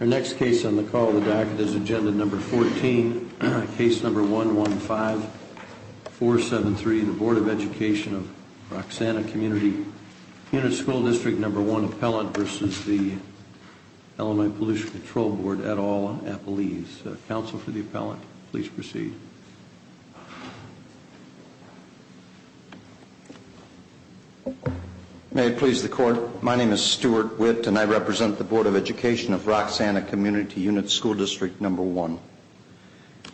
Our next case on the call of the docket is Agenda No. 14, Case No. 115-473, the Board of Education of Roxana Community Unit School District No. 1 Appellant v. the Illinois Pollution Control Board, et al., Appalese. Counsel for the Appellant, please proceed. May it please the Court, my name is Stuart Witt and I represent the Board of Education of Roxana Community Unit School District No. 1.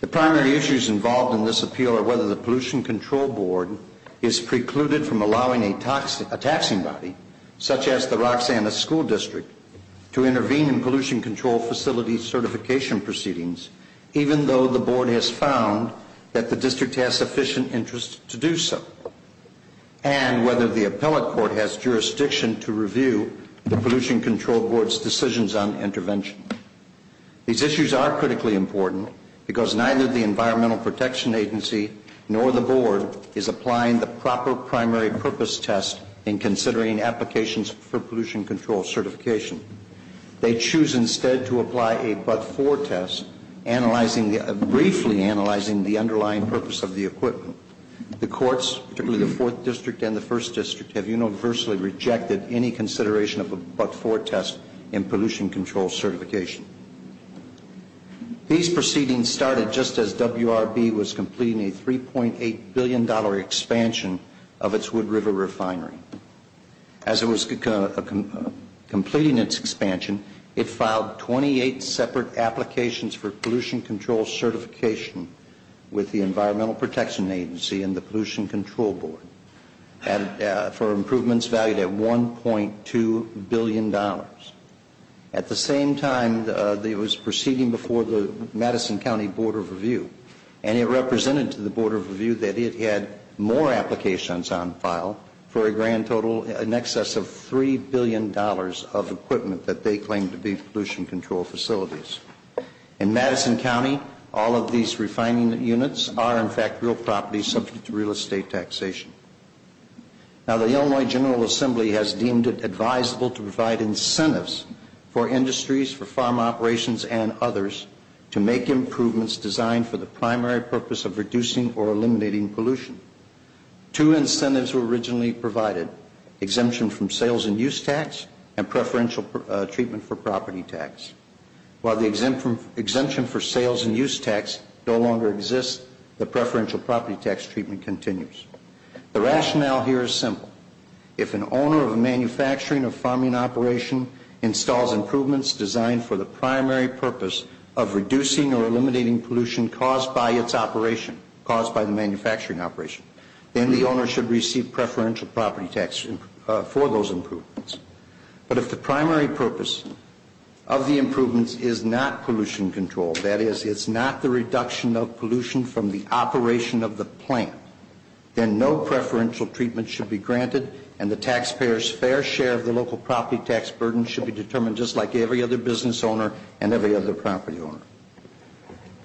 The primary issues involved in this appeal are whether the Pollution Control Board is precluded from allowing a taxing body, such as the Roxana School District, to intervene in pollution control facility certification proceedings, even though the Board has found that the district has sufficient interest to do so, and whether the Appellate Court has jurisdiction to review the Pollution Control Board's decisions on intervention. These issues are critically important because neither the Environmental Protection Agency nor the Board is applying the proper primary purpose test in considering applications for pollution control certification. They choose instead to apply a but-for test, briefly analyzing the underlying purpose of the equipment. The Courts, particularly the Fourth District and the First District, have universally rejected any consideration of a but-for test in pollution control certification. These proceedings started just as WRB was completing a $3.8 billion expansion of its Wood River Refinery. As it was completing its expansion, it filed 28 separate applications for pollution control certification with the Environmental Protection Agency and the Pollution Control Board for improvements valued at $1.2 billion. At the same time, it was proceeding before the Madison County Board of Review, and it represented to the Board of Review that it had more applications on file for a grand total in excess of $3 billion of equipment that they claimed to be pollution control facilities. In Madison County, all of these refining units are, in fact, real property subject to real estate taxation. Now, the Illinois General Assembly has deemed it advisable to provide incentives for industries, for farm operations, and others to make improvements designed for the primary purpose of reducing or eliminating pollution. Two incentives were originally provided, exemption from sales and use tax and preferential treatment for property tax. While the exemption for sales and use tax no longer exists, the preferential property tax treatment continues. The rationale here is simple. If an owner of a manufacturing or farming operation installs improvements designed for the primary purpose of reducing or eliminating pollution caused by its operation, caused by the manufacturing operation, then the owner should receive preferential property tax for those improvements. But if the primary purpose of the improvements is not pollution control, that is, it's not the reduction of pollution from the operation of the plant, then no preferential treatment should be granted, and the taxpayer's fair share of the local property tax burden should be determined just like every other business owner and every other property owner.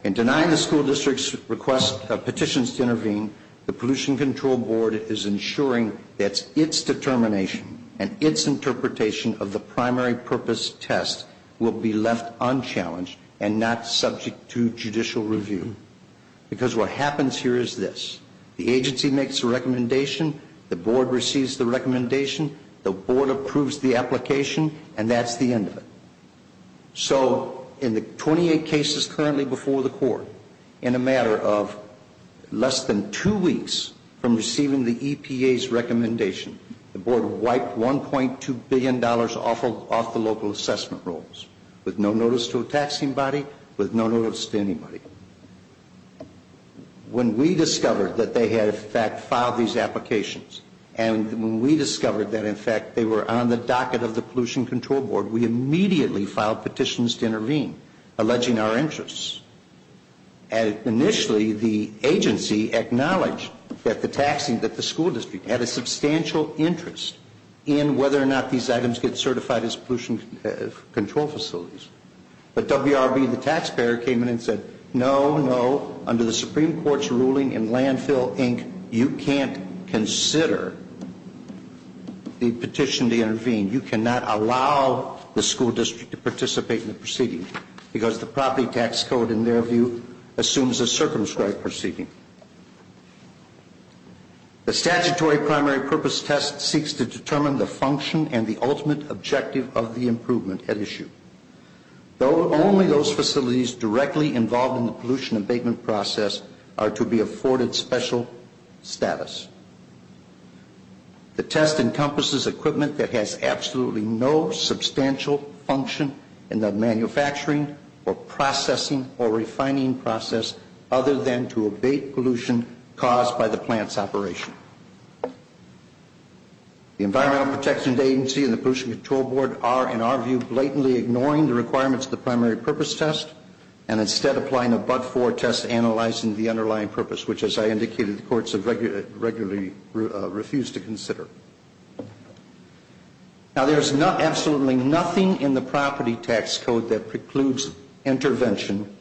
In denying the school district's petitions to intervene, the Pollution Control Board is ensuring that its determination and its interpretation of the primary purpose test will be left unchallenged and not subject to judicial review. Because what happens here is this. The agency makes a recommendation, the board receives the recommendation, the board approves the application, and that's the end of it. So in the 28 cases currently before the court, in a matter of less than two weeks from receiving the EPA's recommendation, the board wiped $1.2 billion off the local assessment rolls, with no notice to a taxing body, with no notice to anybody. When we discovered that they had, in fact, filed these applications, and when we discovered that, in fact, they were on the docket of the Pollution Control Board, we immediately filed petitions to intervene, alleging our interests. Initially, the agency acknowledged that the school district had a substantial interest in whether or not these items get certified as pollution control facilities. But WRB, the taxpayer, came in and said, no, no, under the Supreme Court's ruling in Landfill, Inc., you can't consider the petition to intervene. You cannot allow the school district to participate in the proceeding, because the property tax code, in their view, assumes a circumscribed proceeding. The statutory primary purpose test seeks to determine the function and the ultimate objective of the improvement at issue. Though only those facilities directly involved in the pollution abatement process are to be afforded special status. The test encompasses equipment that has absolutely no substantial function in the manufacturing or processing or refining process, other than to abate pollution caused by the plant's operation. The Environmental Protection Agency and the Pollution Control Board are, in our view, blatantly ignoring the requirements of the primary purpose test, and instead applying a but-for test analyzing the underlying purpose, which, as I indicated, the courts have regularly refused to consider. Now, there is absolutely nothing in the property tax code that precludes intervention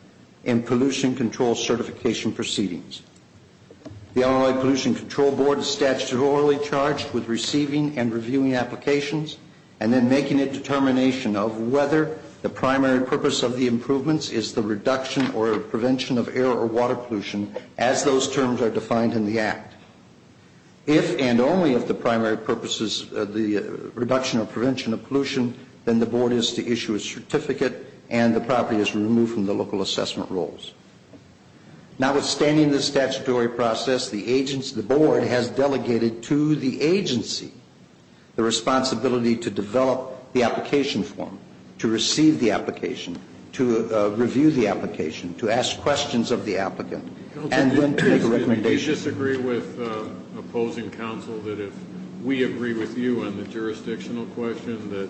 in pollution control certification proceedings. The Illinois Pollution Control Board is statutorily charged with receiving and reviewing applications and then making a determination of whether the primary purpose of the improvements is the reduction or prevention of air or water pollution, as those terms are defined in the Act. If and only if the primary purpose is the reduction or prevention of pollution, then the board is to issue a certificate and the property is removed from the local assessment rules. Notwithstanding the statutory process, the board has delegated to the agency the responsibility to develop the application form, to receive the application, to review the application, to ask questions of the applicant, and then to make a recommendation. Do you disagree with opposing counsel that if we agree with you on the jurisdictional question that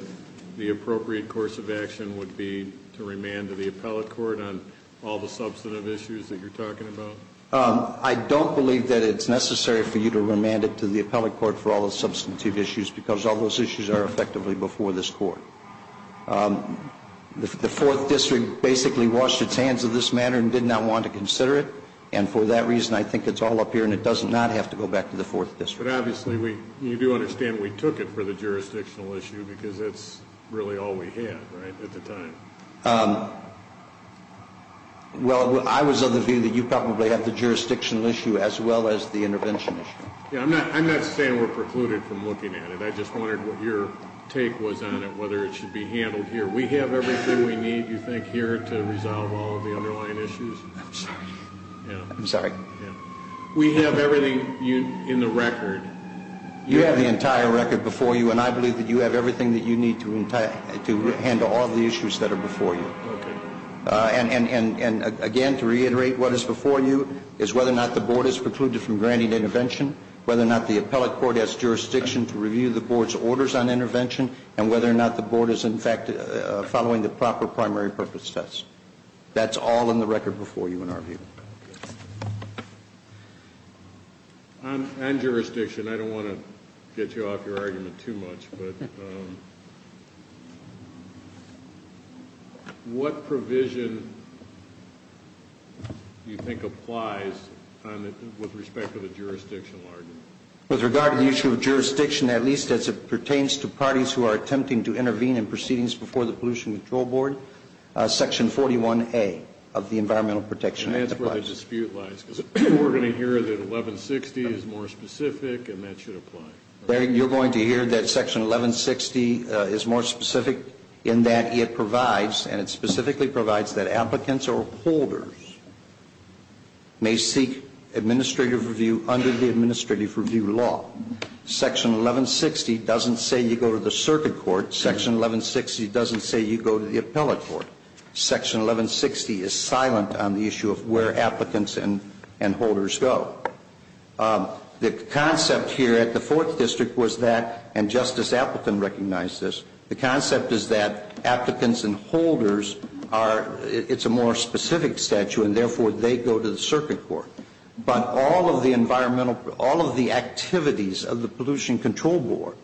the appropriate course of action would be to remand to the appellate court on all the substantive issues that you're talking about? I don't believe that it's necessary for you to remand it to the appellate court for all the substantive issues because all those issues are effectively before this court. The Fourth District basically washed its hands of this matter and did not want to consider it, and for that reason I think it's all up here and it does not have to go back to the Fourth District. But obviously we, you do understand we took it for the jurisdictional issue because that's really all we had, right, at the time. Well, I was of the view that you probably have the jurisdictional issue as well as the intervention issue. Yeah, I'm not saying we're precluded from looking at it. I just wondered what your take was on it, whether it should be handled here. We have everything we need, you think, here to resolve all of the underlying issues? I'm sorry. Yeah. I'm sorry. We have everything in the record. You have the entire record before you, and I believe that you have everything that you need to handle all of the issues that are before you. Okay. And, again, to reiterate what is before you is whether or not the board is precluded from granting intervention, whether or not the appellate court has jurisdiction to review the board's orders on intervention, and whether or not the board is, in fact, following the proper primary purpose test. That's all in the record before you in our view. On jurisdiction, I don't want to get you off your argument too much, but what provision do you think applies with respect to the jurisdictional argument? With regard to the issue of jurisdiction, at least as it pertains to parties who are attempting to intervene in proceedings before the Pollution Control Board, Section 41A of the Environmental Protection Act applies. That's where the dispute lies, because we're going to hear that 1160 is more specific, and that should apply. You're going to hear that Section 1160 is more specific in that it provides, and it specifically provides that applicants or holders may seek administrative review under the administrative review law. Section 1160 doesn't say you go to the circuit court. Section 1160 doesn't say you go to the appellate court. Section 1160 is silent on the issue of where applicants and holders go. The concept here at the Fourth District was that, and Justice Appleton recognized this, the concept is that applicants and holders are, it's a more specific statute, and therefore they go to the circuit court. But all of the environmental, all of the activities of the Pollution Control Board,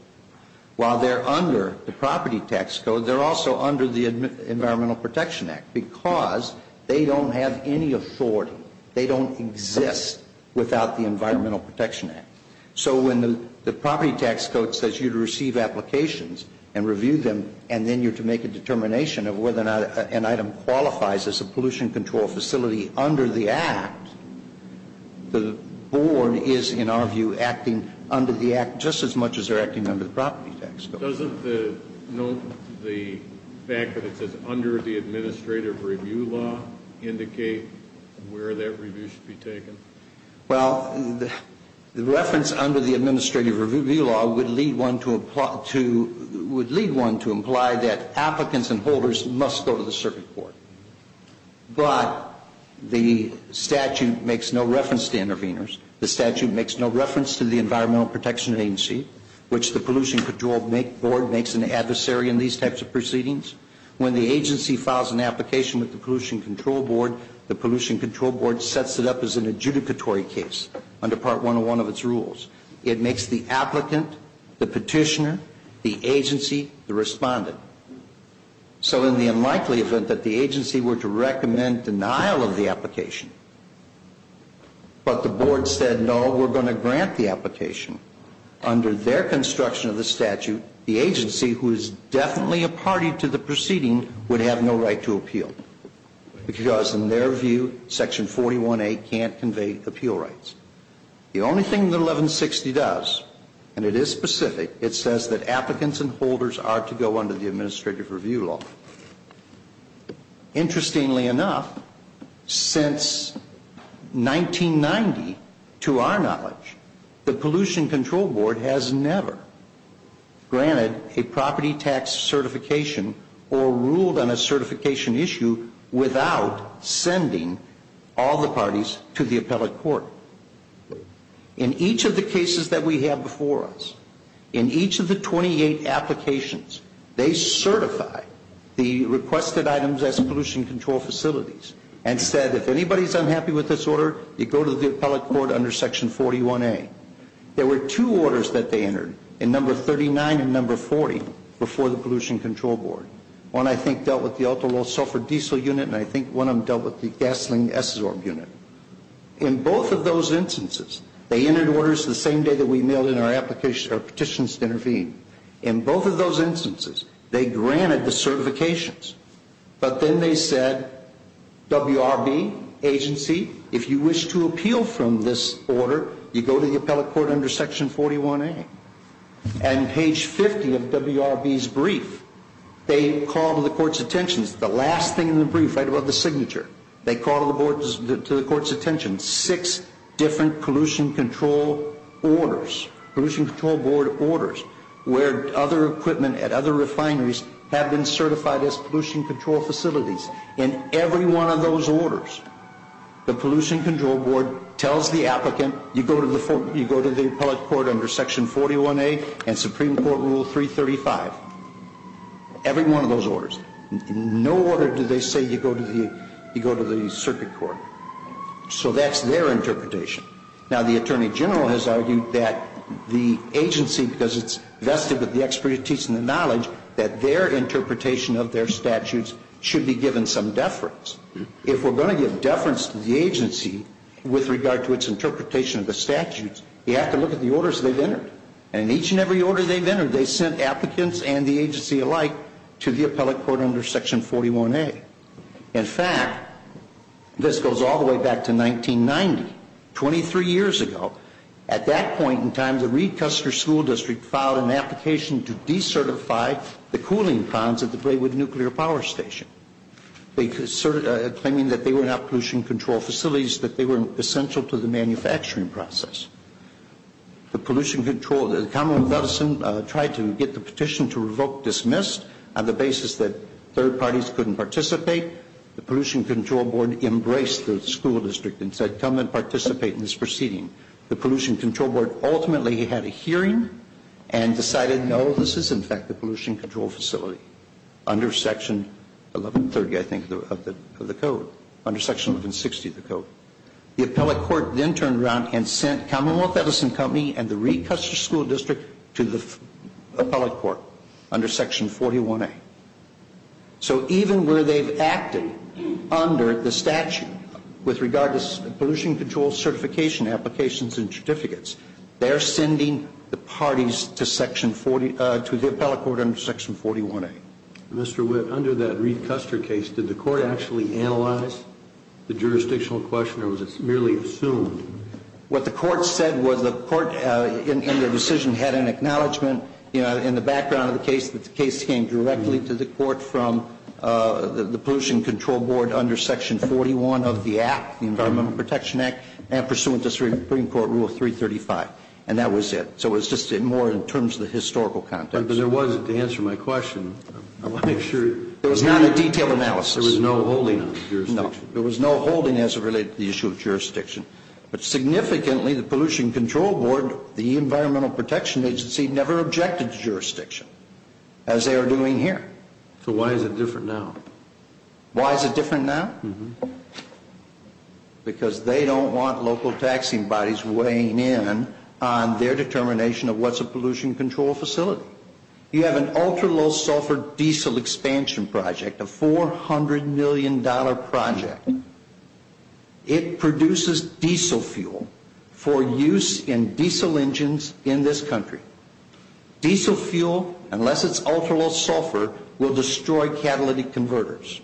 while they're under the property tax code, they're also under the Environmental Protection Act, because they don't have any authority. They don't exist without the Environmental Protection Act. So when the property tax code says you receive applications and review them, and then you're to make a determination of whether or not an item qualifies as a pollution control facility under the Act, the Board is, in our view, acting under the Act just as much as they're acting under the property tax code. Doesn't the note, the fact that it says under the administrative review law indicate where that review should be taken? Well, the reference under the administrative review law would lead one to imply that applicants and holders must go to the circuit court. But the statute makes no reference to interveners. The statute makes no reference to the Environmental Protection Agency, which the Pollution Control Board makes an adversary in these types of proceedings. When the agency files an application with the Pollution Control Board, the Pollution Control Board sets it up as an adjudicatory case under Part 101 of its rules. It makes the applicant, the petitioner, the agency, the respondent. So in the unlikely event that the agency were to recommend denial of the application, but the Board said, no, we're going to grant the application, under their construction of the statute, the agency, who is definitely a party to the proceeding, would have no right to appeal because, in their view, Section 41A can't convey appeal rights. The only thing that 1160 does, and it is specific, it says that applicants and holders are to go under the administrative review law. Interestingly enough, since 1990, to our knowledge, the Pollution Control Board has never granted a property tax certification or ruled on a certification issue without sending all the parties to the appellate court. In each of the cases that we have before us, in each of the 28 applications, they certify the requested items as pollution control facilities and said, if anybody is unhappy with this order, you go to the appellate court under Section 41A. There were two orders that they entered, in number 39 and number 40, before the Pollution Control Board. One, I think, dealt with the ultra-low sulfur diesel unit, and I think one of them dealt with the gasoline SZORB unit. In both of those instances, they entered orders the same day that we mailed in our petitions to intervene. In both of those instances, they granted the certifications, but then they said, WRB agency, if you wish to appeal from this order, you go to the appellate court under Section 41A. And page 50 of WRB's brief, they call to the court's attention, the last thing in the brief, right above the signature, they call to the court's attention six different Pollution Control Board orders, where other equipment at other refineries have been certified as pollution control facilities. In every one of those orders, the Pollution Control Board tells the applicant, you go to the appellate court under Section 41A and Supreme Court Rule 335. Every one of those orders. In no order do they say you go to the circuit court. So that's their interpretation. Now, the Attorney General has argued that the agency, because it's vested with the expertise and the knowledge, that their interpretation of their statutes should be given some deference. If we're going to give deference to the agency with regard to its interpretation of the statutes, you have to look at the orders they've entered. And in each and every order they've entered, they sent applicants and the agency alike to the appellate court under Section 41A. In fact, this goes all the way back to 1990, 23 years ago. At that point in time, the Reed Custer School District filed an application to decertify the cooling ponds at the Braywood Nuclear Power Station, claiming that they were not pollution control facilities, that they were essential to the manufacturing process. The pollution control, the Commonwealth of Edison tried to get the petition to revoke, dismissed on the basis that third parties couldn't participate. The Pollution Control Board embraced the school district and said, come and participate in this proceeding. The Pollution Control Board ultimately had a hearing and decided, no, this is in fact a pollution control facility, under Section 1130, I think, of the code, under Section 1160 of the code. The appellate court then turned around and sent Commonwealth Edison Company and the Reed Custer School District to the appellate court under Section 41A. So even where they've acted under the statute with regard to pollution control certification applications and certificates, they're sending the parties to the appellate court under Section 41A. Mr. Witt, under that Reed Custer case, did the court actually analyze the jurisdictional question or was it merely assumed? What the court said was the court, in their decision, had an acknowledgment in the background of the case that the case came directly to the court from the Pollution Control Board under Section 41 of the Act, the Environmental Protection Act, and pursuant to Supreme Court Rule 335. And that was it. So it was just more in terms of the historical context. But there was, to answer my question, I want to make sure. There was not a detailed analysis. There was no holding on the jurisdiction. But significantly, the Pollution Control Board, the Environmental Protection Agency, never objected to jurisdiction, as they are doing here. So why is it different now? Why is it different now? Because they don't want local taxing bodies weighing in on their determination of what's a pollution control facility. You have an ultra-low sulfur diesel expansion project, a $400 million project. It produces diesel fuel for use in diesel engines in this country. Diesel fuel, unless it's ultra-low sulfur, will destroy catalytic converters.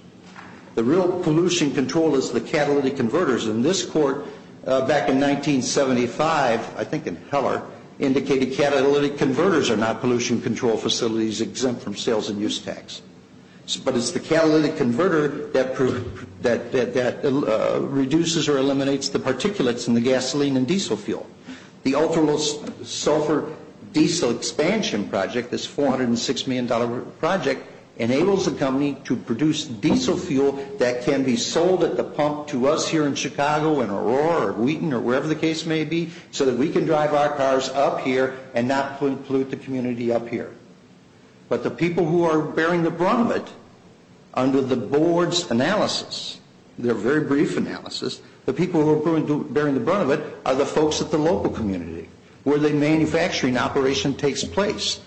The real pollution control is the catalytic converters. And this court, back in 1975, I think in Heller, indicated catalytic converters are not pollution control facilities exempt from sales and use tax. But it's the catalytic converter that reduces or eliminates the particulates in the gasoline and diesel fuel. The ultra-low sulfur diesel expansion project, this $406 million project, enables the company to produce diesel fuel that can be sold at the pump to us here in Chicago, in Aurora or Wheaton or wherever the case may be, so that we can drive our cars up here and not pollute the community up here. But the people who are bearing the brunt of it under the board's analysis, their very brief analysis, the people who are bearing the brunt of it are the folks at the local community where the manufacturing operation takes place.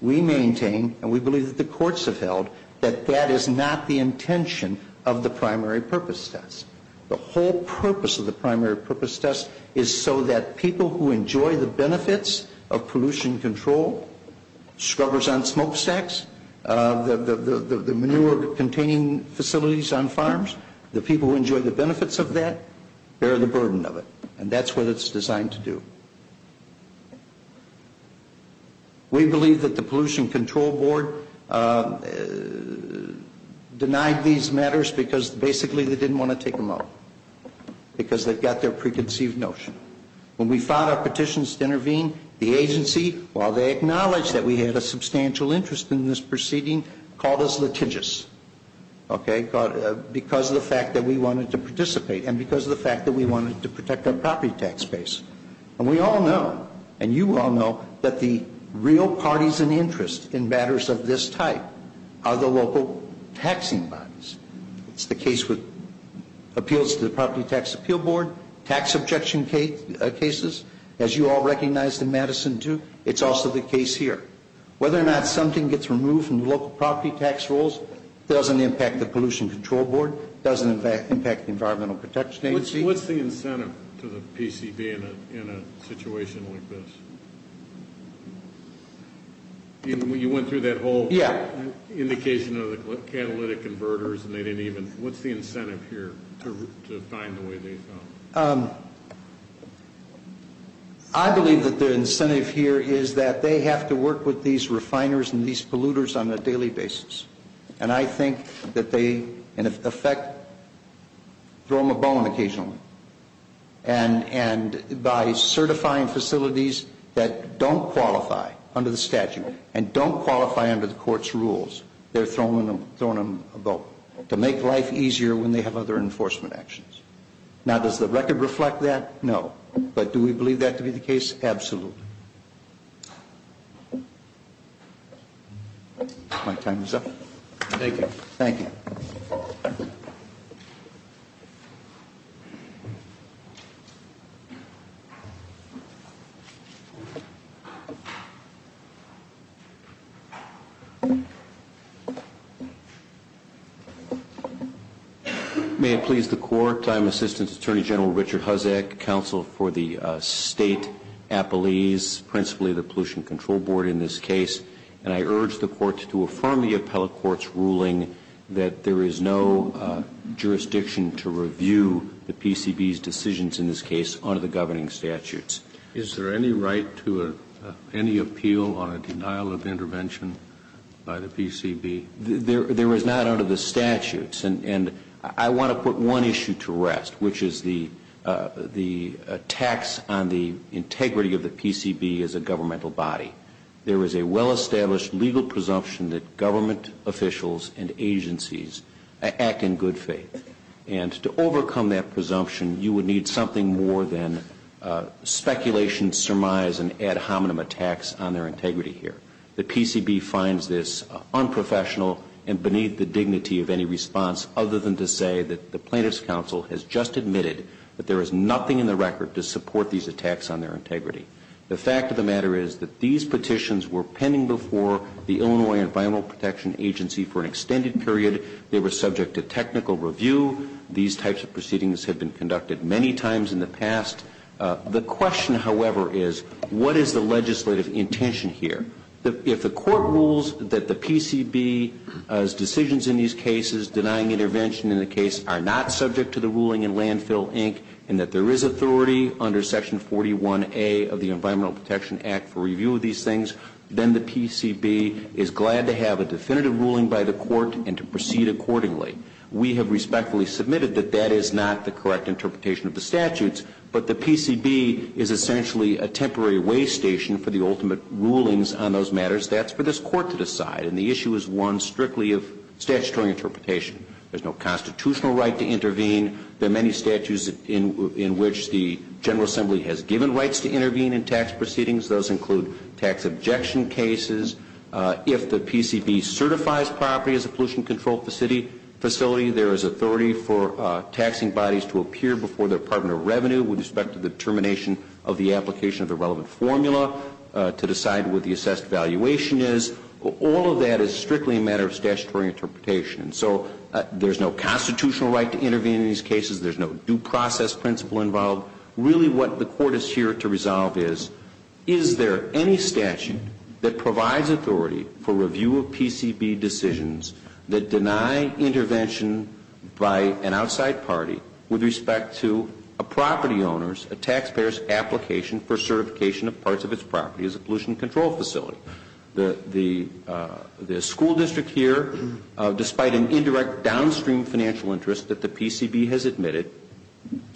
We maintain, and we believe that the courts have held, that that is not the intention of the primary purpose test. The whole purpose of the primary purpose test is so that people who enjoy the benefits of pollution control, scrubbers on smokestacks, the manure-containing facilities on farms, the people who enjoy the benefits of that bear the burden of it. And that's what it's designed to do. We believe that the Pollution Control Board denied these matters because basically they didn't want to take them up, because they've got their preconceived notion. When we filed our petitions to intervene, the agency, while they acknowledged that we had a substantial interest in this proceeding, called us litigious, okay, because of the fact that we wanted to participate and because of the fact that we wanted to protect our property tax base. And we all know, and you all know, that the real parties in interest in matters of this type are the local taxing bodies. It's the case with appeals to the Property Tax Appeal Board, tax objection cases, as you all recognize in Madison, too. It's also the case here. Whether or not something gets removed from the local property tax rolls doesn't impact the Pollution Control Board, doesn't impact the Environmental Protection Agency. What's the incentive to the PCB in a situation like this? You went through that whole indication of the catalytic converters and they didn't even, what's the incentive here to find the way they found it? I believe that the incentive here is that they have to work with these refiners and these polluters on a daily basis. And I think that they, in effect, throw them a bone occasionally. And by certifying facilities that don't qualify under the statute and don't qualify under the court's rules, they're throwing them a bone to make life easier when they have other enforcement actions. Now, does the record reflect that? No. But do we believe that to be the case? Absolutely. My time is up. Thank you. Thank you. Thank you. May it please the Court. I'm Assistant Attorney General Richard Husek, Counsel for the State Appellees, principally the Pollution Control Board in this case. And I urge the Court to affirm the appellate court's ruling that there is no jurisdiction to review the PCB's decisions in this case under the governing statutes. Is there any right to any appeal on a denial of intervention by the PCB? There is not under the statutes. And I want to put one issue to rest, which is the tax on the integrity of the PCB as a governmental body. There is a well-established legal presumption that government officials and agencies act in good faith. And to overcome that presumption, you would need something more than speculation, surmise, and ad hominem attacks on their integrity here. The PCB finds this unprofessional and beneath the dignity of any response, other than to say that the plaintiff's counsel has just admitted that there is nothing in the record to support these attacks on their integrity. The fact of the matter is that these petitions were pending before the Illinois Environmental Protection Agency for an extended period. They were subject to technical review. These types of proceedings have been conducted many times in the past. The question, however, is what is the legislative intention here? If the Court rules that the PCB's decisions in these cases, denying intervention in the case, are not subject to the ruling in Landfill, Inc., and that there is authority under Section 41A of the Environmental Protection Act for review of these things, then the PCB is glad to have a definitive ruling by the Court and to proceed accordingly. We have respectfully submitted that that is not the correct interpretation of the statutes, but the PCB is essentially a temporary way station for the ultimate rulings on those matters. That's for this Court to decide, and the issue is one strictly of statutory interpretation. There's no constitutional right to intervene. There are many statutes in which the General Assembly has given rights to intervene in tax proceedings. Those include tax objection cases. If the PCB certifies property as a pollution-controlled facility, there is authority for taxing bodies to appear before the Department of Revenue with respect to the determination of the application of the relevant formula to decide what the assessed valuation is. All of that is strictly a matter of statutory interpretation. So there's no constitutional right to intervene in these cases. There's no due process principle involved. Really what the Court is here to resolve is, is there any statute that provides authority for review of PCB decisions that deny intervention by an outside party with respect to a property owner's, a taxpayer's application for certification of parts of its property as a pollution-controlled facility? The school district here, despite an indirect downstream financial interest that the PCB has admitted,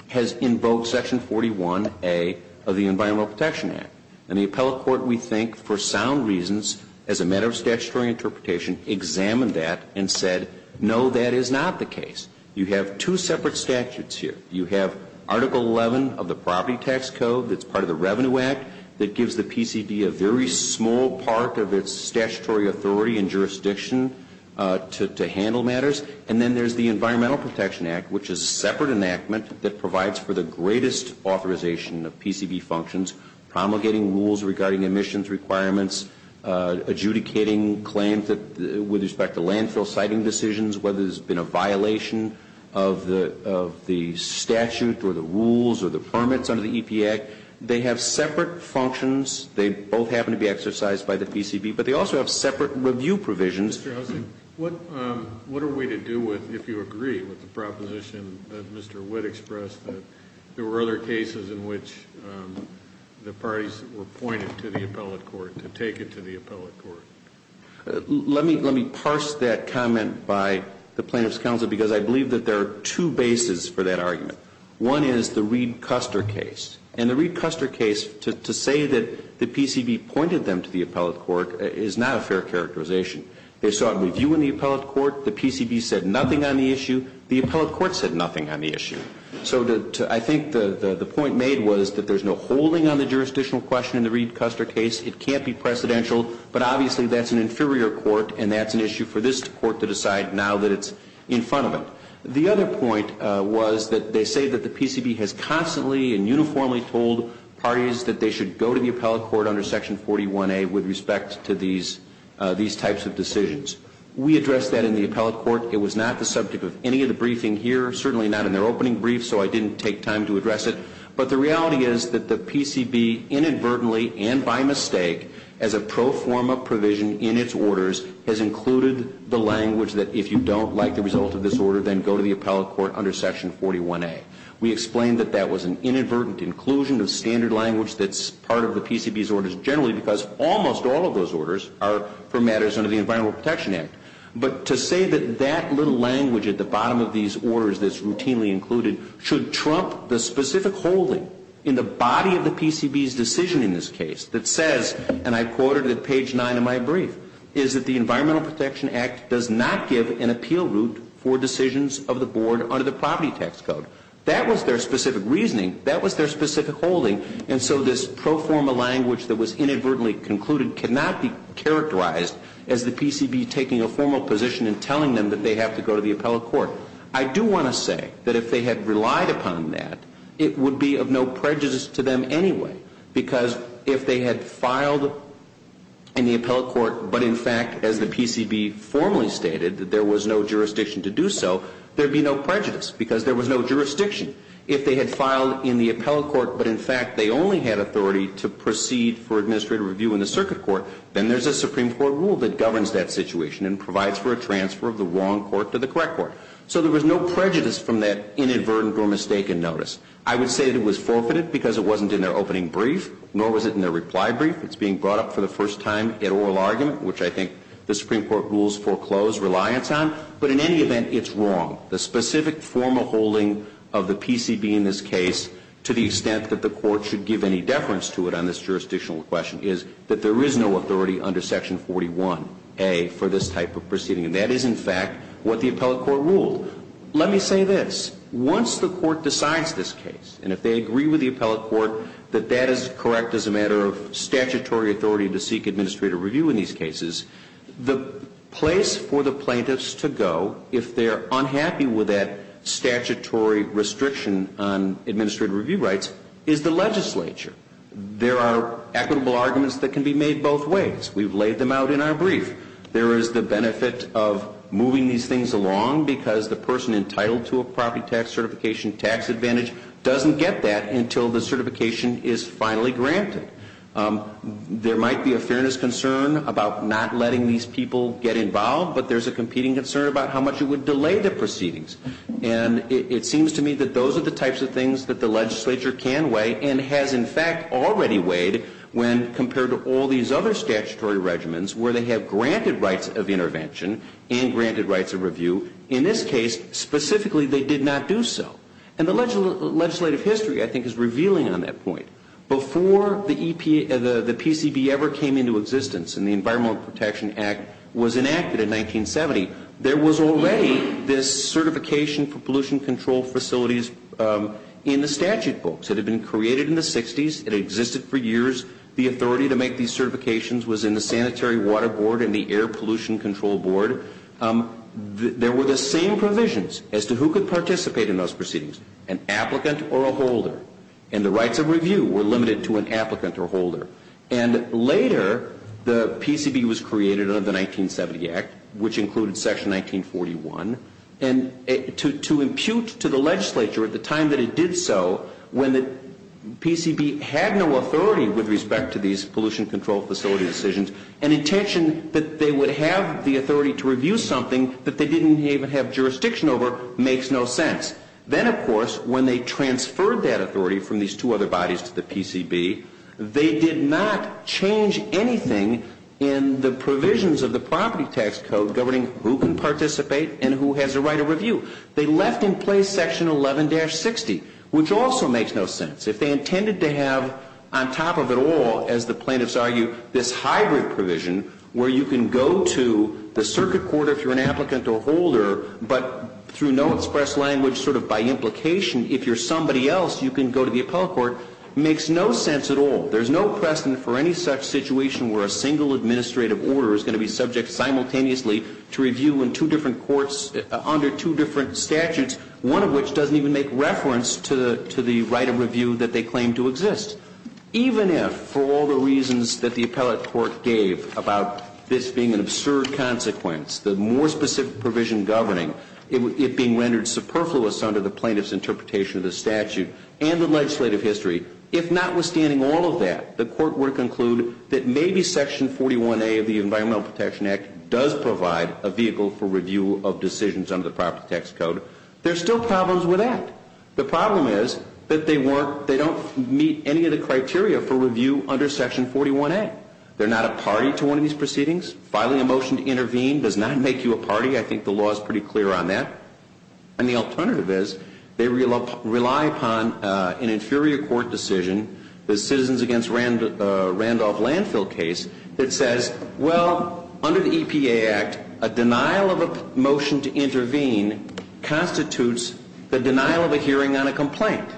has invoked Section 41A of the Environmental Protection Act. And the appellate court, we think, for sound reasons, as a matter of statutory interpretation, examined that and said, no, that is not the case. You have two separate statutes here. You have Article 11 of the Property Tax Code that's part of the Revenue Act that gives the PCB a very small part of its statutory authority and jurisdiction to handle matters. And then there's the Environmental Protection Act, which is a separate enactment that provides for the greatest authorization of PCB functions, promulgating rules regarding emissions requirements, adjudicating claims with respect to landfill siting decisions, whether there's been a violation of the statute or the rules or the permits under the EPA. They have separate functions. They both happen to be exercised by the PCB. But they also have separate review provisions. Mr. Helsink, what are we to do with, if you agree, with the proposition that Mr. Witt expressed that there were other cases in which the parties were pointed to the appellate court to take it to the appellate court? Let me parse that comment by the Plaintiffs' Counsel, because I believe that there are two bases for that argument. One is the Reed-Custer case. And the Reed-Custer case, to say that the PCB pointed them to the appellate court, is not a fair characterization. They sought review in the appellate court. The PCB said nothing on the issue. The appellate court said nothing on the issue. So I think the point made was that there's no holding on the jurisdictional question in the Reed-Custer case. It can't be precedential. But obviously that's an inferior court, and that's an issue for this court to decide now that it's in front of it. The other point was that they say that the PCB has constantly and uniformly told parties that they should go to the appellate court under Section 41A with respect to these types of decisions. We addressed that in the appellate court. It was not the subject of any of the briefing here, certainly not in their opening brief, so I didn't take time to address it. But the reality is that the PCB inadvertently and by mistake, as a pro forma provision in its orders, has included the language that if you don't like the result of this order, then go to the appellate court under Section 41A. We explained that that was an inadvertent inclusion of standard language that's part of the PCB's orders generally because almost all of those orders are for matters under the Environmental Protection Act. But to say that that little language at the bottom of these orders that's routinely included should trump the specific holding in the body of the PCB's decision in this case that says, and I quoted at page 9 of my brief, is that the Environmental Protection Act does not give an appeal route for decisions of the board under the property tax code. That was their specific reasoning. That was their specific holding. And so this pro forma language that was inadvertently concluded cannot be characterized as the PCB taking a formal position and telling them that they have to go to the appellate court. I do want to say that if they had relied upon that, it would be of no prejudice to them anyway because if they had filed in the appellate court, but in fact as the PCB formally stated that there was no jurisdiction to do so, there would be no prejudice because there was no jurisdiction. If they had filed in the appellate court, but in fact they only had authority to proceed for administrative review in the circuit court, then there's a Supreme Court rule that governs that situation and provides for a transfer of the wrong court to the correct court. So there was no prejudice from that inadvertent or mistaken notice. I would say that it was forfeited because it wasn't in their opening brief nor was it in their reply brief. It's being brought up for the first time in oral argument, which I think the Supreme Court rules foreclosed reliance on. But in any event, it's wrong. The specific formal holding of the PCB in this case to the extent that the court should give any deference to it on this jurisdictional question is that there is no authority under section 41A for this type of proceeding. And that is in fact what the appellate court ruled. Let me say this. Once the court decides this case, and if they agree with the appellate court that that is correct as a matter of statutory authority to seek administrative review in these cases, the place for the plaintiffs to go if they're unhappy with that statutory restriction on administrative review rights is the legislature. There are equitable arguments that can be made both ways. We've laid them out in our brief. There is the benefit of moving these things along because the person entitled to a property tax certification tax advantage doesn't get that until the certification is finally granted. There might be a fairness concern about not letting these people get involved, but there's a competing concern about how much it would delay the proceedings. And it seems to me that those are the types of things that the legislature can weigh and has in fact already weighed when compared to all these other statutory regimens where they have granted rights of intervention and granted rights of review. In this case, specifically, they did not do so. And the legislative history, I think, is revealing on that point. Before the PCB ever came into existence and the Environmental Protection Act was enacted in 1970, there was already this certification for pollution control facilities in the statute books. It had been created in the 60s. It existed for years. The authority to make these certifications was in the Sanitary Water Board and the Air Pollution Control Board. There were the same provisions as to who could participate in those proceedings, an applicant or a holder. And the rights of review were limited to an applicant or holder. And later, the PCB was created under the 1970 Act, which included Section 1941. And to impute to the legislature at the time that it did so, when the PCB had no authority with respect to these pollution control facility decisions, an intention that they would have the authority to review something that they didn't even have jurisdiction over makes no sense. Then, of course, when they transferred that authority from these two other bodies to the PCB, they did not change anything in the provisions of the property tax code They left in place Section 11-60, which also makes no sense. If they intended to have, on top of it all, as the plaintiffs argue, this hybrid provision where you can go to the circuit court if you're an applicant or holder, but through no express language, sort of by implication, if you're somebody else, you can go to the appellate court, makes no sense at all. There's no precedent for any such situation where a single administrative order is going to be subject to review in two different courts under two different statutes, one of which doesn't even make reference to the right of review that they claim to exist. Even if, for all the reasons that the appellate court gave about this being an absurd consequence, the more specific provision governing it being rendered superfluous under the plaintiff's interpretation of the statute and the legislative history, if notwithstanding all of that, the court were to conclude that maybe Section 41A of the Environmental Protection Act does provide a vehicle for review of decisions under the property tax code, there's still problems with that. The problem is that they don't meet any of the criteria for review under Section 41A. They're not a party to one of these proceedings. Filing a motion to intervene does not make you a party. I think the law is pretty clear on that. And the alternative is they rely upon an inferior court decision. The Citizens Against Randolph Landfill case that says, well, under the EPA Act, a denial of a motion to intervene constitutes the denial of a hearing on a complaint.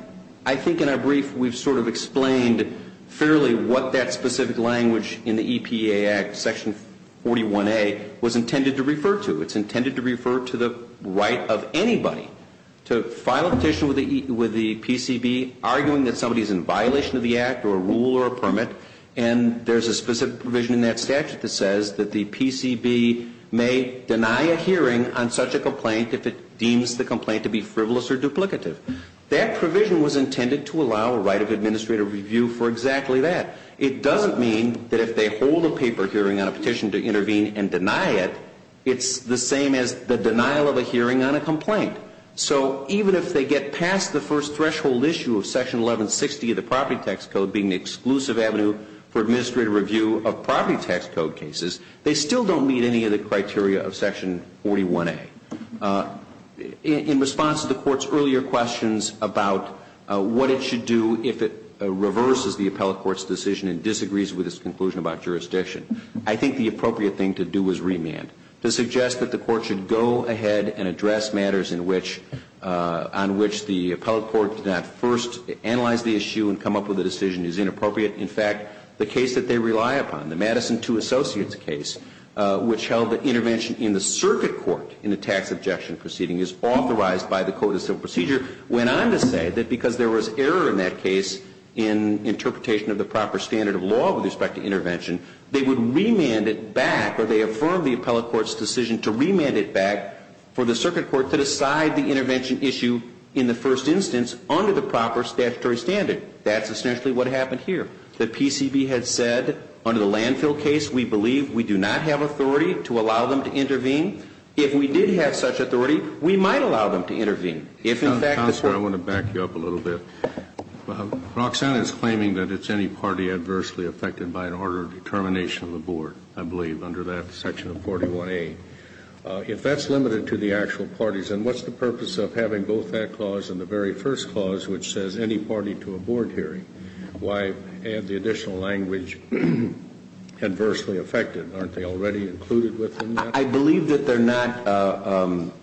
I think in our brief we've sort of explained fairly what that specific language in the EPA Act, Section 41A, was intended to refer to. It's intended to refer to the right of anybody to file a petition with the PCB arguing that somebody is in violation of the Act or a rule or a permit, and there's a specific provision in that statute that says that the PCB may deny a hearing on such a complaint if it deems the complaint to be frivolous or duplicative. That provision was intended to allow a right of administrative review for exactly that. It doesn't mean that if they hold a paper hearing on a petition to intervene and deny it, it's the same as the denial of a hearing on a complaint. So even if they get past the first threshold issue of Section 1160 of the Property Tax Code being the exclusive avenue for administrative review of property tax code cases, they still don't meet any of the criteria of Section 41A. In response to the Court's earlier questions about what it should do if it reverses the appellate court's decision and disagrees with its conclusion about jurisdiction, I think the appropriate thing to do is remand. To suggest that the Court should go ahead and address matters on which the appellate court did not first analyze the issue and come up with a decision is inappropriate. In fact, the case that they rely upon, the Madison II Associates case, which held that intervention in the circuit court in the tax objection proceeding is authorized by the Code of Civil Procedure, went on to say that because there was error in that case in interpretation of the proper standard of law with respect to intervention, they would remand it back or they affirm the appellate court's decision to remand it back for the circuit court to decide the intervention issue in the first instance under the proper statutory standard. That's essentially what happened here. The PCB had said, under the landfill case, we believe we do not have authority to allow them to intervene. If we did have such authority, we might allow them to intervene. If, in fact, the Court ---- Counselor, I want to back you up a little bit. Roxanne is claiming that it's any party adversely affected by an order of determination of the board, I believe, under that section of 41A. If that's limited to the actual parties, then what's the purpose of having both that clause and the very first clause which says any party to a board hearing? Why add the additional language, adversely affected? Aren't they already included within that? I believe that they're not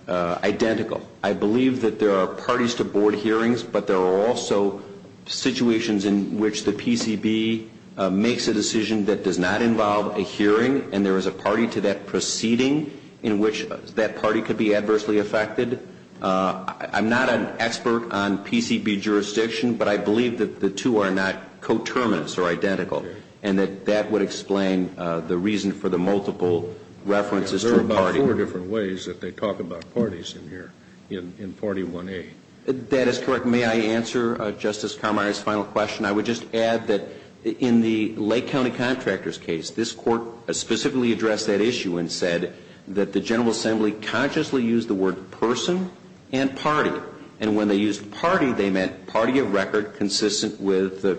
identical. I believe that there are parties to board hearings, but there are also situations in which the PCB makes a decision that does not involve a hearing and there is a party to that proceeding in which that party could be adversely affected. I'm not an expert on PCB jurisdiction, but I believe that the two are not coterminous or identical and that that would explain the reason for the multiple references to a party. There are four different ways that they talk about parties in here, in 41A. That is correct. May I answer Justice Carminer's final question? I would just add that in the Lake County Contractors case, this Court specifically addressed that issue and said that the General Assembly consciously used the word person and party. And when they used party, they meant party of record consistent with the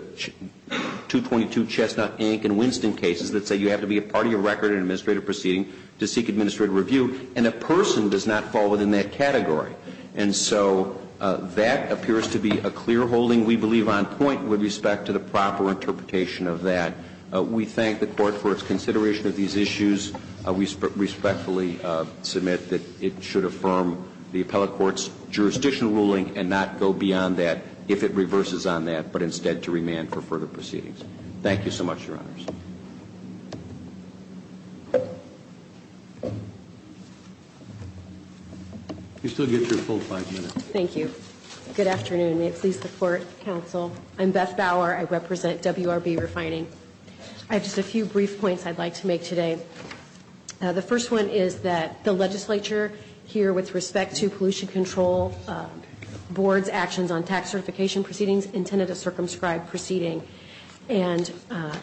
222 Chestnut Inc. and Winston cases that say you have to be a party of record in an administrative proceeding to seek administrative review. And a person does not fall within that category. And so that appears to be a clear holding, we believe, on point with respect to the proper interpretation of that. We thank the Court for its consideration of these issues. We respectfully submit that it should affirm the appellate court's jurisdictional ruling and not go beyond that if it reverses on that, but instead to remand for further proceedings. Thank you so much, Your Honors. You still get your full five minutes. Thank you. Good afternoon. May it please the Court, Counsel. I'm Beth Bauer. I represent WRB Refining. I have just a few brief points I'd like to make today. The first one is that the legislature here with respect to pollution control board's actions on tax certification proceedings intended to circumscribe proceeding. And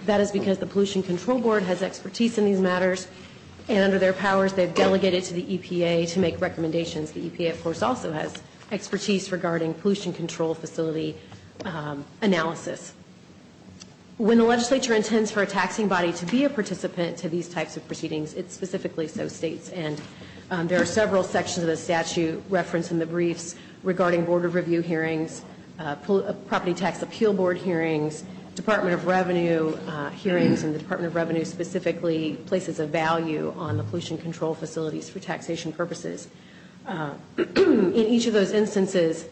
that is because the pollution control board has expertise in these matters. And under their powers, they've delegated to the EPA to make recommendations. The EPA, of course, also has expertise regarding pollution control facility analysis. When the legislature intends for a taxing body to be a participant to these types of proceedings, it specifically so states. And there are several sections of the statute referenced in the briefs regarding board of review hearings, property tax appeal board hearings, Department of Revenue hearings, and the Department of Revenue specifically places a value on the pollution control facilities for taxation purposes. In each of those instances,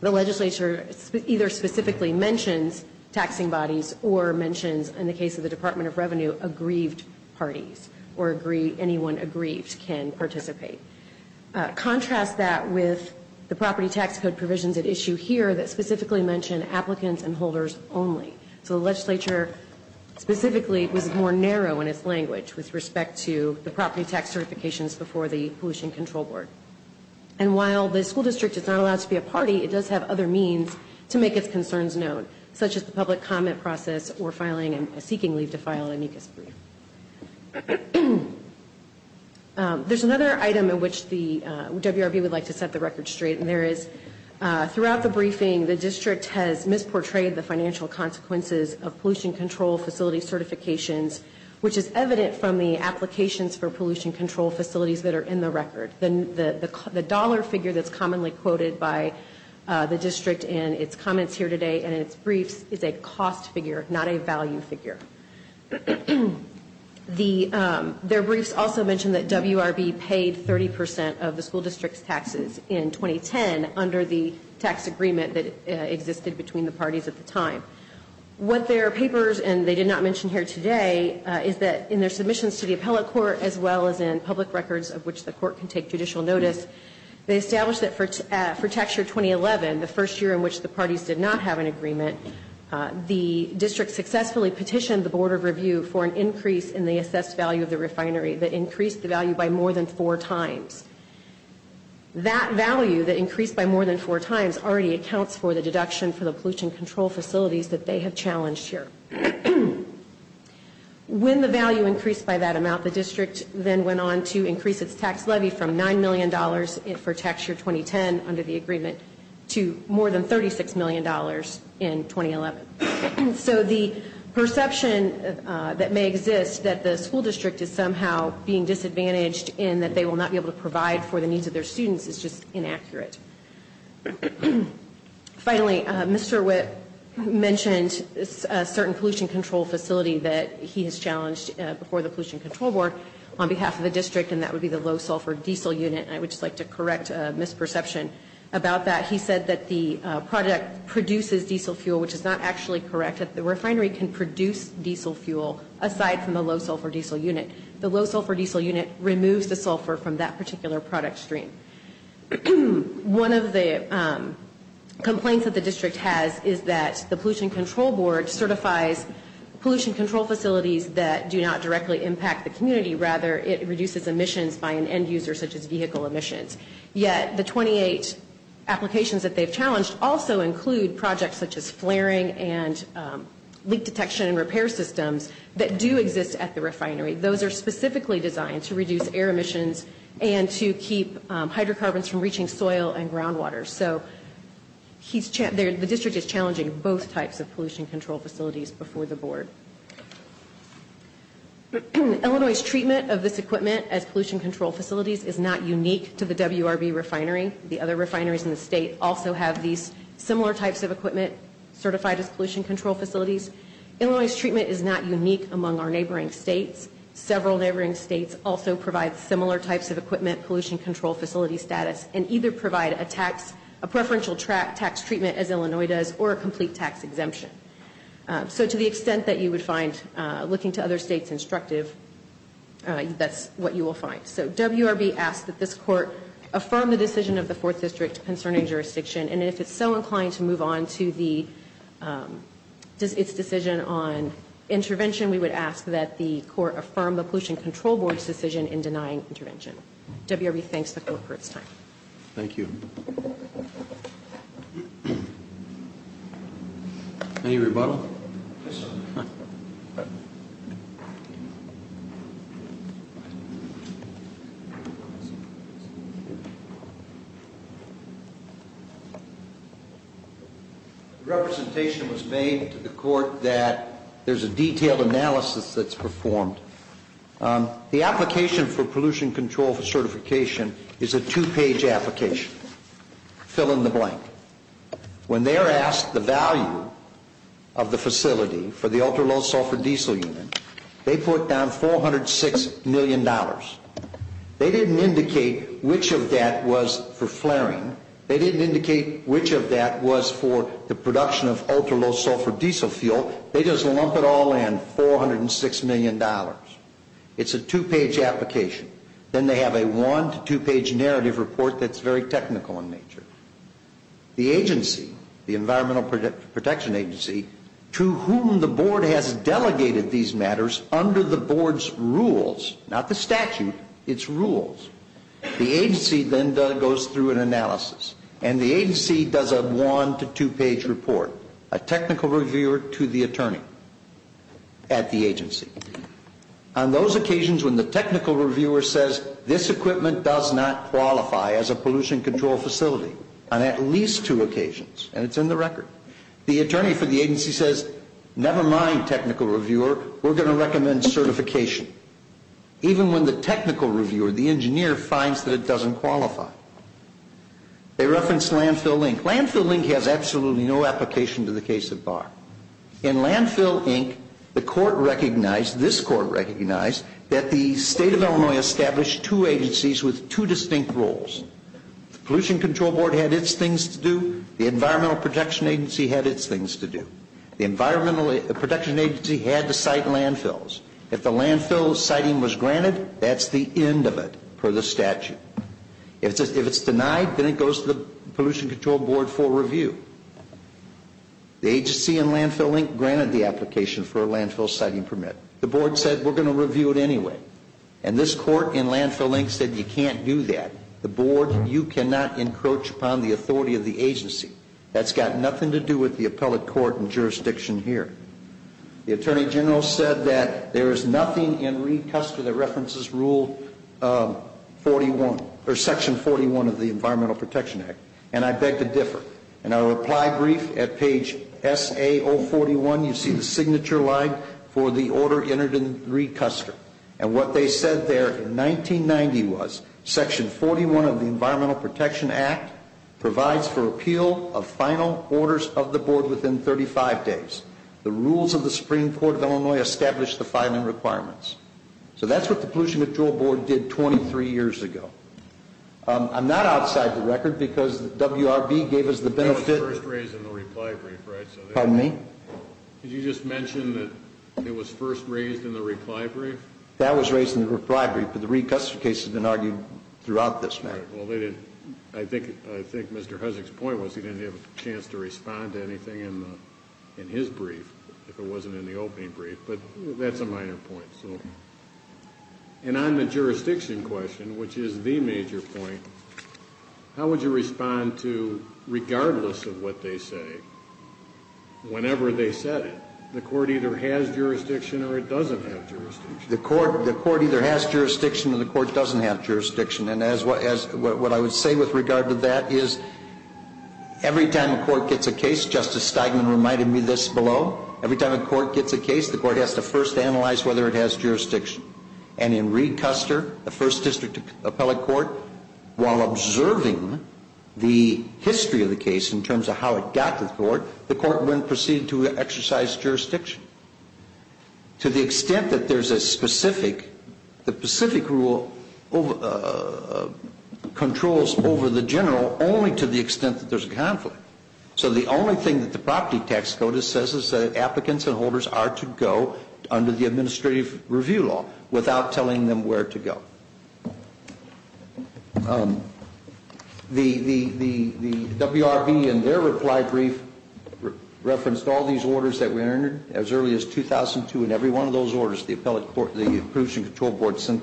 the legislature either specifically mentions taxing bodies or mentions, in the case of the Department of Revenue, aggrieved parties or anyone aggrieved can participate. Contrast that with the property tax code provisions at issue here that specifically mention applicants and holders only. So the legislature specifically was more narrow in its language with respect to the property tax certifications before the pollution control board. And while the school district is not allowed to be a party, it does have other means to make its concerns known, such as the public comment process or filing a seeking leave to file a NICAS brief. There's another item in which the WRB would like to set the record straight. And there is, throughout the briefing, the district has misportrayed the financial consequences of pollution control facility certifications, which is evident from the applications for pollution control facilities that are in the record. The dollar figure that's commonly quoted by the district in its comments here today and in its briefs is a cost figure, not a value figure. Their briefs also mention that WRB paid 30 percent of the school district's taxes in 2010 under the tax agreement that existed between the parties at the time. What their papers, and they did not mention here today, is that in their submissions to the appellate court as well as in public records of which the court can take judicial notice, they established that for tax year 2011, the first year in which the parties did not have an agreement, the district successfully petitioned the Board of Review for an increase in the assessed value of the refinery that increased the value by more than four times. That value that increased by more than four times already accounts for the deduction for the pollution control facilities that they have challenged here. When the value increased by that amount, the district then went on to increase its tax levy from $9 million for tax year 2010 under the agreement to more than $36 million in 2011. So the perception that may exist that the school district is somehow being disadvantaged and that they will not be able to provide for the needs of their students is just inaccurate. Finally, Mr. Witt mentioned a certain pollution control facility that he has challenged before the Pollution Control Board on behalf of the district, and that would be the low-sulfur diesel unit. And I would just like to correct a misperception about that. He said that the product produces diesel fuel, which is not actually correct. The refinery can produce diesel fuel aside from the low-sulfur diesel unit. The low-sulfur diesel unit removes the sulfur from that particular product stream. One of the complaints that the district has is that the Pollution Control Board certifies pollution control facilities that do not directly impact the community. Rather, it reduces emissions by an end user such as vehicle emissions. Yet the 28 applications that they have challenged also include projects such as flaring and leak detection and repair systems that do exist at the refinery. Those are specifically designed to reduce air emissions and to keep hydrocarbons from reaching soil and groundwater. So the district is challenging both types of pollution control facilities before the board. Illinois' treatment of this equipment as pollution control facilities is not unique to the WRB refinery. The other refineries in the state also have these similar types of equipment certified as pollution control facilities. Illinois' treatment is not unique among our neighboring states. Several neighboring states also provide similar types of equipment pollution control facility status and either provide a preferential tax treatment as Illinois does or a complete tax exemption. So to the extent that you would find looking to other states instructive, that's what you will find. So WRB asks that this court affirm the decision of the 4th District concerning jurisdiction. And if it's so inclined to move on to its decision on intervention, we would ask that the court affirm the Pollution Control Board's decision in denying intervention. WRB thanks the court for its time. Thank you. Any rebuttal? Yes, sir. The representation was made to the court that there's a detailed analysis that's performed. The application for pollution control certification is a two-page application. Fill in the blank. When they're asked the value of the facility for the ultra-low sulfur diesel unit, they put down $406 million. They didn't indicate which of that was for flaring. They didn't indicate which of that was for the production of ultra-low sulfur diesel fuel. They just lump it all in, $406 million. It's a two-page application. Then they have a one- to two-page narrative report that's very technical in nature. The agency, the Environmental Protection Agency, to whom the board has delegated these matters under the board's rules, not the statute, its rules, the agency then goes through an analysis. And the agency does a one- to two-page report, a technical reviewer to the attorney at the agency. On those occasions when the technical reviewer says this equipment does not qualify as a pollution control facility, on at least two occasions, and it's in the record, the attorney for the agency says, never mind technical reviewer, we're going to recommend certification. Even when the technical reviewer, the engineer, finds that it doesn't qualify. They reference Landfill, Inc. Landfill, Inc. has absolutely no application to the case of Barr. In Landfill, Inc., the court recognized, this court recognized, that the state of Illinois established two agencies with two distinct roles. The Pollution Control Board had its things to do. The Environmental Protection Agency had its things to do. The Environmental Protection Agency had to cite landfills. If the landfill citing was granted, that's the end of it, per the statute. If it's denied, then it goes to the Pollution Control Board for review. The agency in Landfill, Inc. granted the application for a landfill citing permit. The board said, we're going to review it anyway. And this court in Landfill, Inc. said, you can't do that. The board, you cannot encroach upon the authority of the agency. That's got nothing to do with the appellate court and jurisdiction here. The Attorney General said that there is nothing in Reed-Custer that references Rule 41, or Section 41 of the Environmental Protection Act, and I beg to differ. In our reply brief at page SA-041, you see the signature line for the order entered in Reed-Custer. And what they said there in 1990 was, Section 41 of the Environmental Protection Act provides for appeal of final orders of the board within 35 days. The rules of the Supreme Court of Illinois establish the filing requirements. So that's what the Pollution Control Board did 23 years ago. I'm not outside the record because WRB gave us the benefit. That was first raised in the reply brief, right? Pardon me? Did you just mention that it was first raised in the reply brief? That was raised in the reply brief, but the Reed-Custer case has been argued throughout this matter. I think Mr. Hussack's point was he didn't have a chance to respond to anything in his brief, if it wasn't in the opening brief, but that's a minor point. And on the jurisdiction question, which is the major point, how would you respond to, regardless of what they say, whenever they said it, the court either has jurisdiction or it doesn't have jurisdiction? The court either has jurisdiction or the court doesn't have jurisdiction. And what I would say with regard to that is every time a court gets a case, Justice Steigman reminded me of this below, every time a court gets a case, the court has to first analyze whether it has jurisdiction. And in Reed-Custer, the first district appellate court, while observing the history of the case in terms of how it got to the court, the court wouldn't proceed to exercise jurisdiction. To the extent that there's a specific, the specific rule controls over the general, only to the extent that there's a conflict. So the only thing that the property tax code says is that applicants and holders are to go under the administrative review law without telling them where to go. The WRB in their reply brief referenced all these orders that were entered as early as 2002 and every one of those orders the appellate court, the Approval and Control Board, sent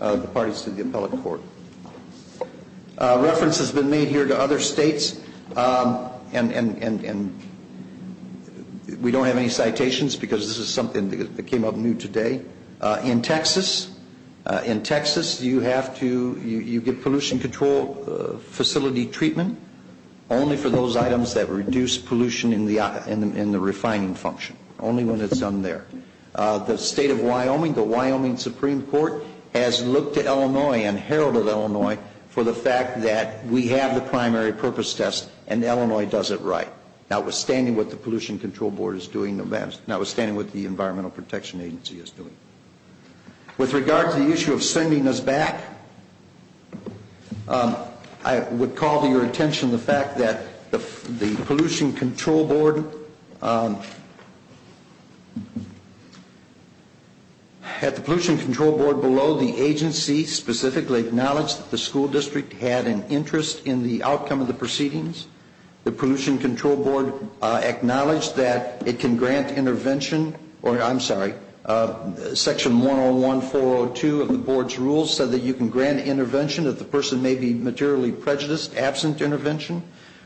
the parties to the appellate court. Reference has been made here to other states, and we don't have any citations because this is something that came up new today. In Texas, in Texas you have to, you get pollution control facility treatment only for those items that reduce pollution in the refining function. Only when it's done there. The state of Wyoming, the Wyoming Supreme Court, has looked at Illinois and heralded Illinois for the fact that we have the primary purpose test and Illinois does it right, notwithstanding what the Pollution Control Board is doing, notwithstanding what the Environmental Protection Agency is doing. With regard to the issue of sending us back, I would call to your attention the fact that the Pollution Control Board, at the Pollution Control Board below, the agency specifically acknowledged that the school district had an interest in the outcome of the proceedings. The Pollution Control Board acknowledged that it can grant intervention, or I'm sorry, Section 101-402 of the Board's rules said that you can grant intervention if the person may be materially prejudiced, absent intervention,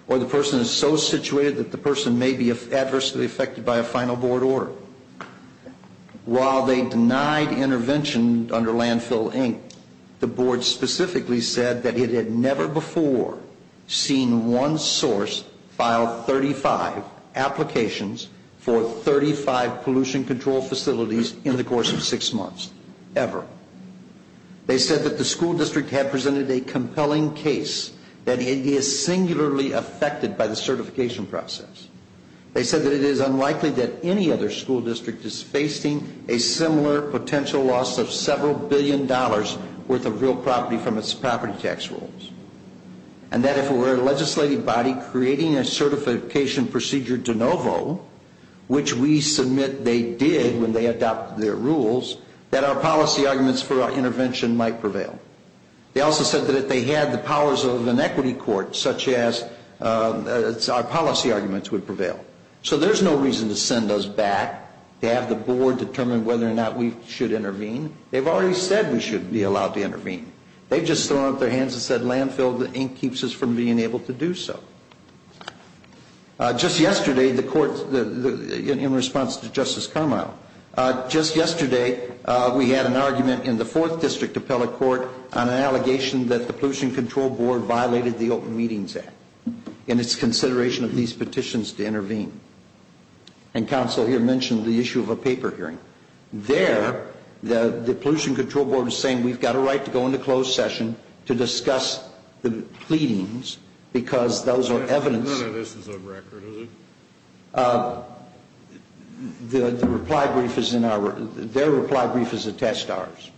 or the person is so situated that the person may be adversely affected by a final board order. While they denied intervention under Landfill, Inc., the Board specifically said that it had never before seen one source file 35 applications for 35 pollution control facilities in the course of six months, ever. They said that the school district had presented a compelling case that it is singularly affected by the certification process. They said that it is unlikely that any other school district is facing a similar potential loss of several billion dollars' worth of real property from its property tax rules, and that if it were a legislative body creating a certification procedure de novo, which we submit they did when they adopted their rules, that our policy arguments for our intervention might prevail. They also said that if they had the powers of an equity court, such as our policy arguments would prevail. So there's no reason to send us back to have the Board determine whether or not we should intervene. They've already said we should be allowed to intervene. They've just thrown up their hands and said Landfill, Inc., keeps us from being able to do so. Just yesterday, the court, in response to Justice Carmile, just yesterday we had an argument in the Fourth District Appellate Court on an allegation that the Pollution Control Board violated the Open Meetings Act in its consideration of these petitions to intervene. And counsel here mentioned the issue of a paper hearing. There, the Pollution Control Board is saying we've got a right to go into closed session to discuss the pleadings because those are evidence. No, no, this is on record, is it? The reply brief is in our, their reply brief is attached to ours.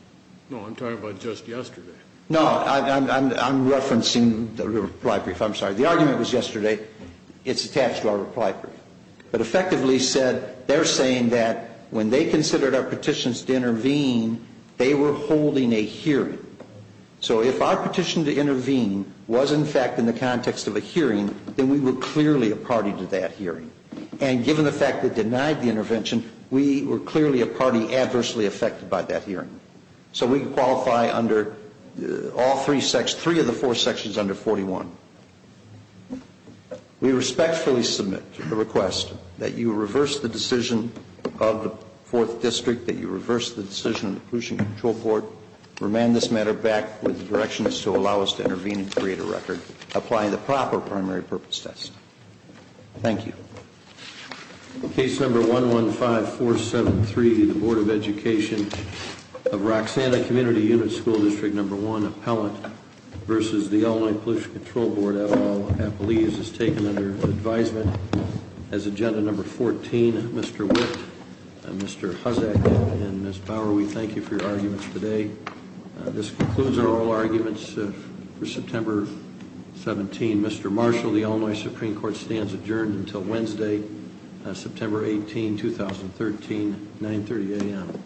No, I'm talking about just yesterday. No, I'm referencing the reply brief. I'm sorry. The argument was yesterday. It's attached to our reply brief. But effectively said, they're saying that when they considered our petitions to intervene, they were holding a hearing. So if our petition to intervene was, in fact, in the context of a hearing, then we were clearly a party to that hearing. And given the fact that denied the intervention, we were clearly a party adversely affected by that hearing. So we qualify under all three sections, three of the four sections under 41. We respectfully submit to the request that you reverse the decision of the 4th District, that you reverse the decision of the Pollution Control Board, remand this matter back with the directions to allow us to intervene and create a record applying the proper primary purpose test. Thank you. Case number 115473, the Board of Education of Roxanna Community Unit, School District Number 1, Appellant, versus the Illinois Pollution Control Board, et al. Appellees, is taken under advisement as agenda number 14. Mr. Whitt, Mr. Hussack, and Ms. Bauer, we thank you for your arguments today. This concludes our oral arguments for September 17. Mr. Marshall, the Illinois Supreme Court stands adjourned until Wednesday, September 18, 2013, 930 a.m.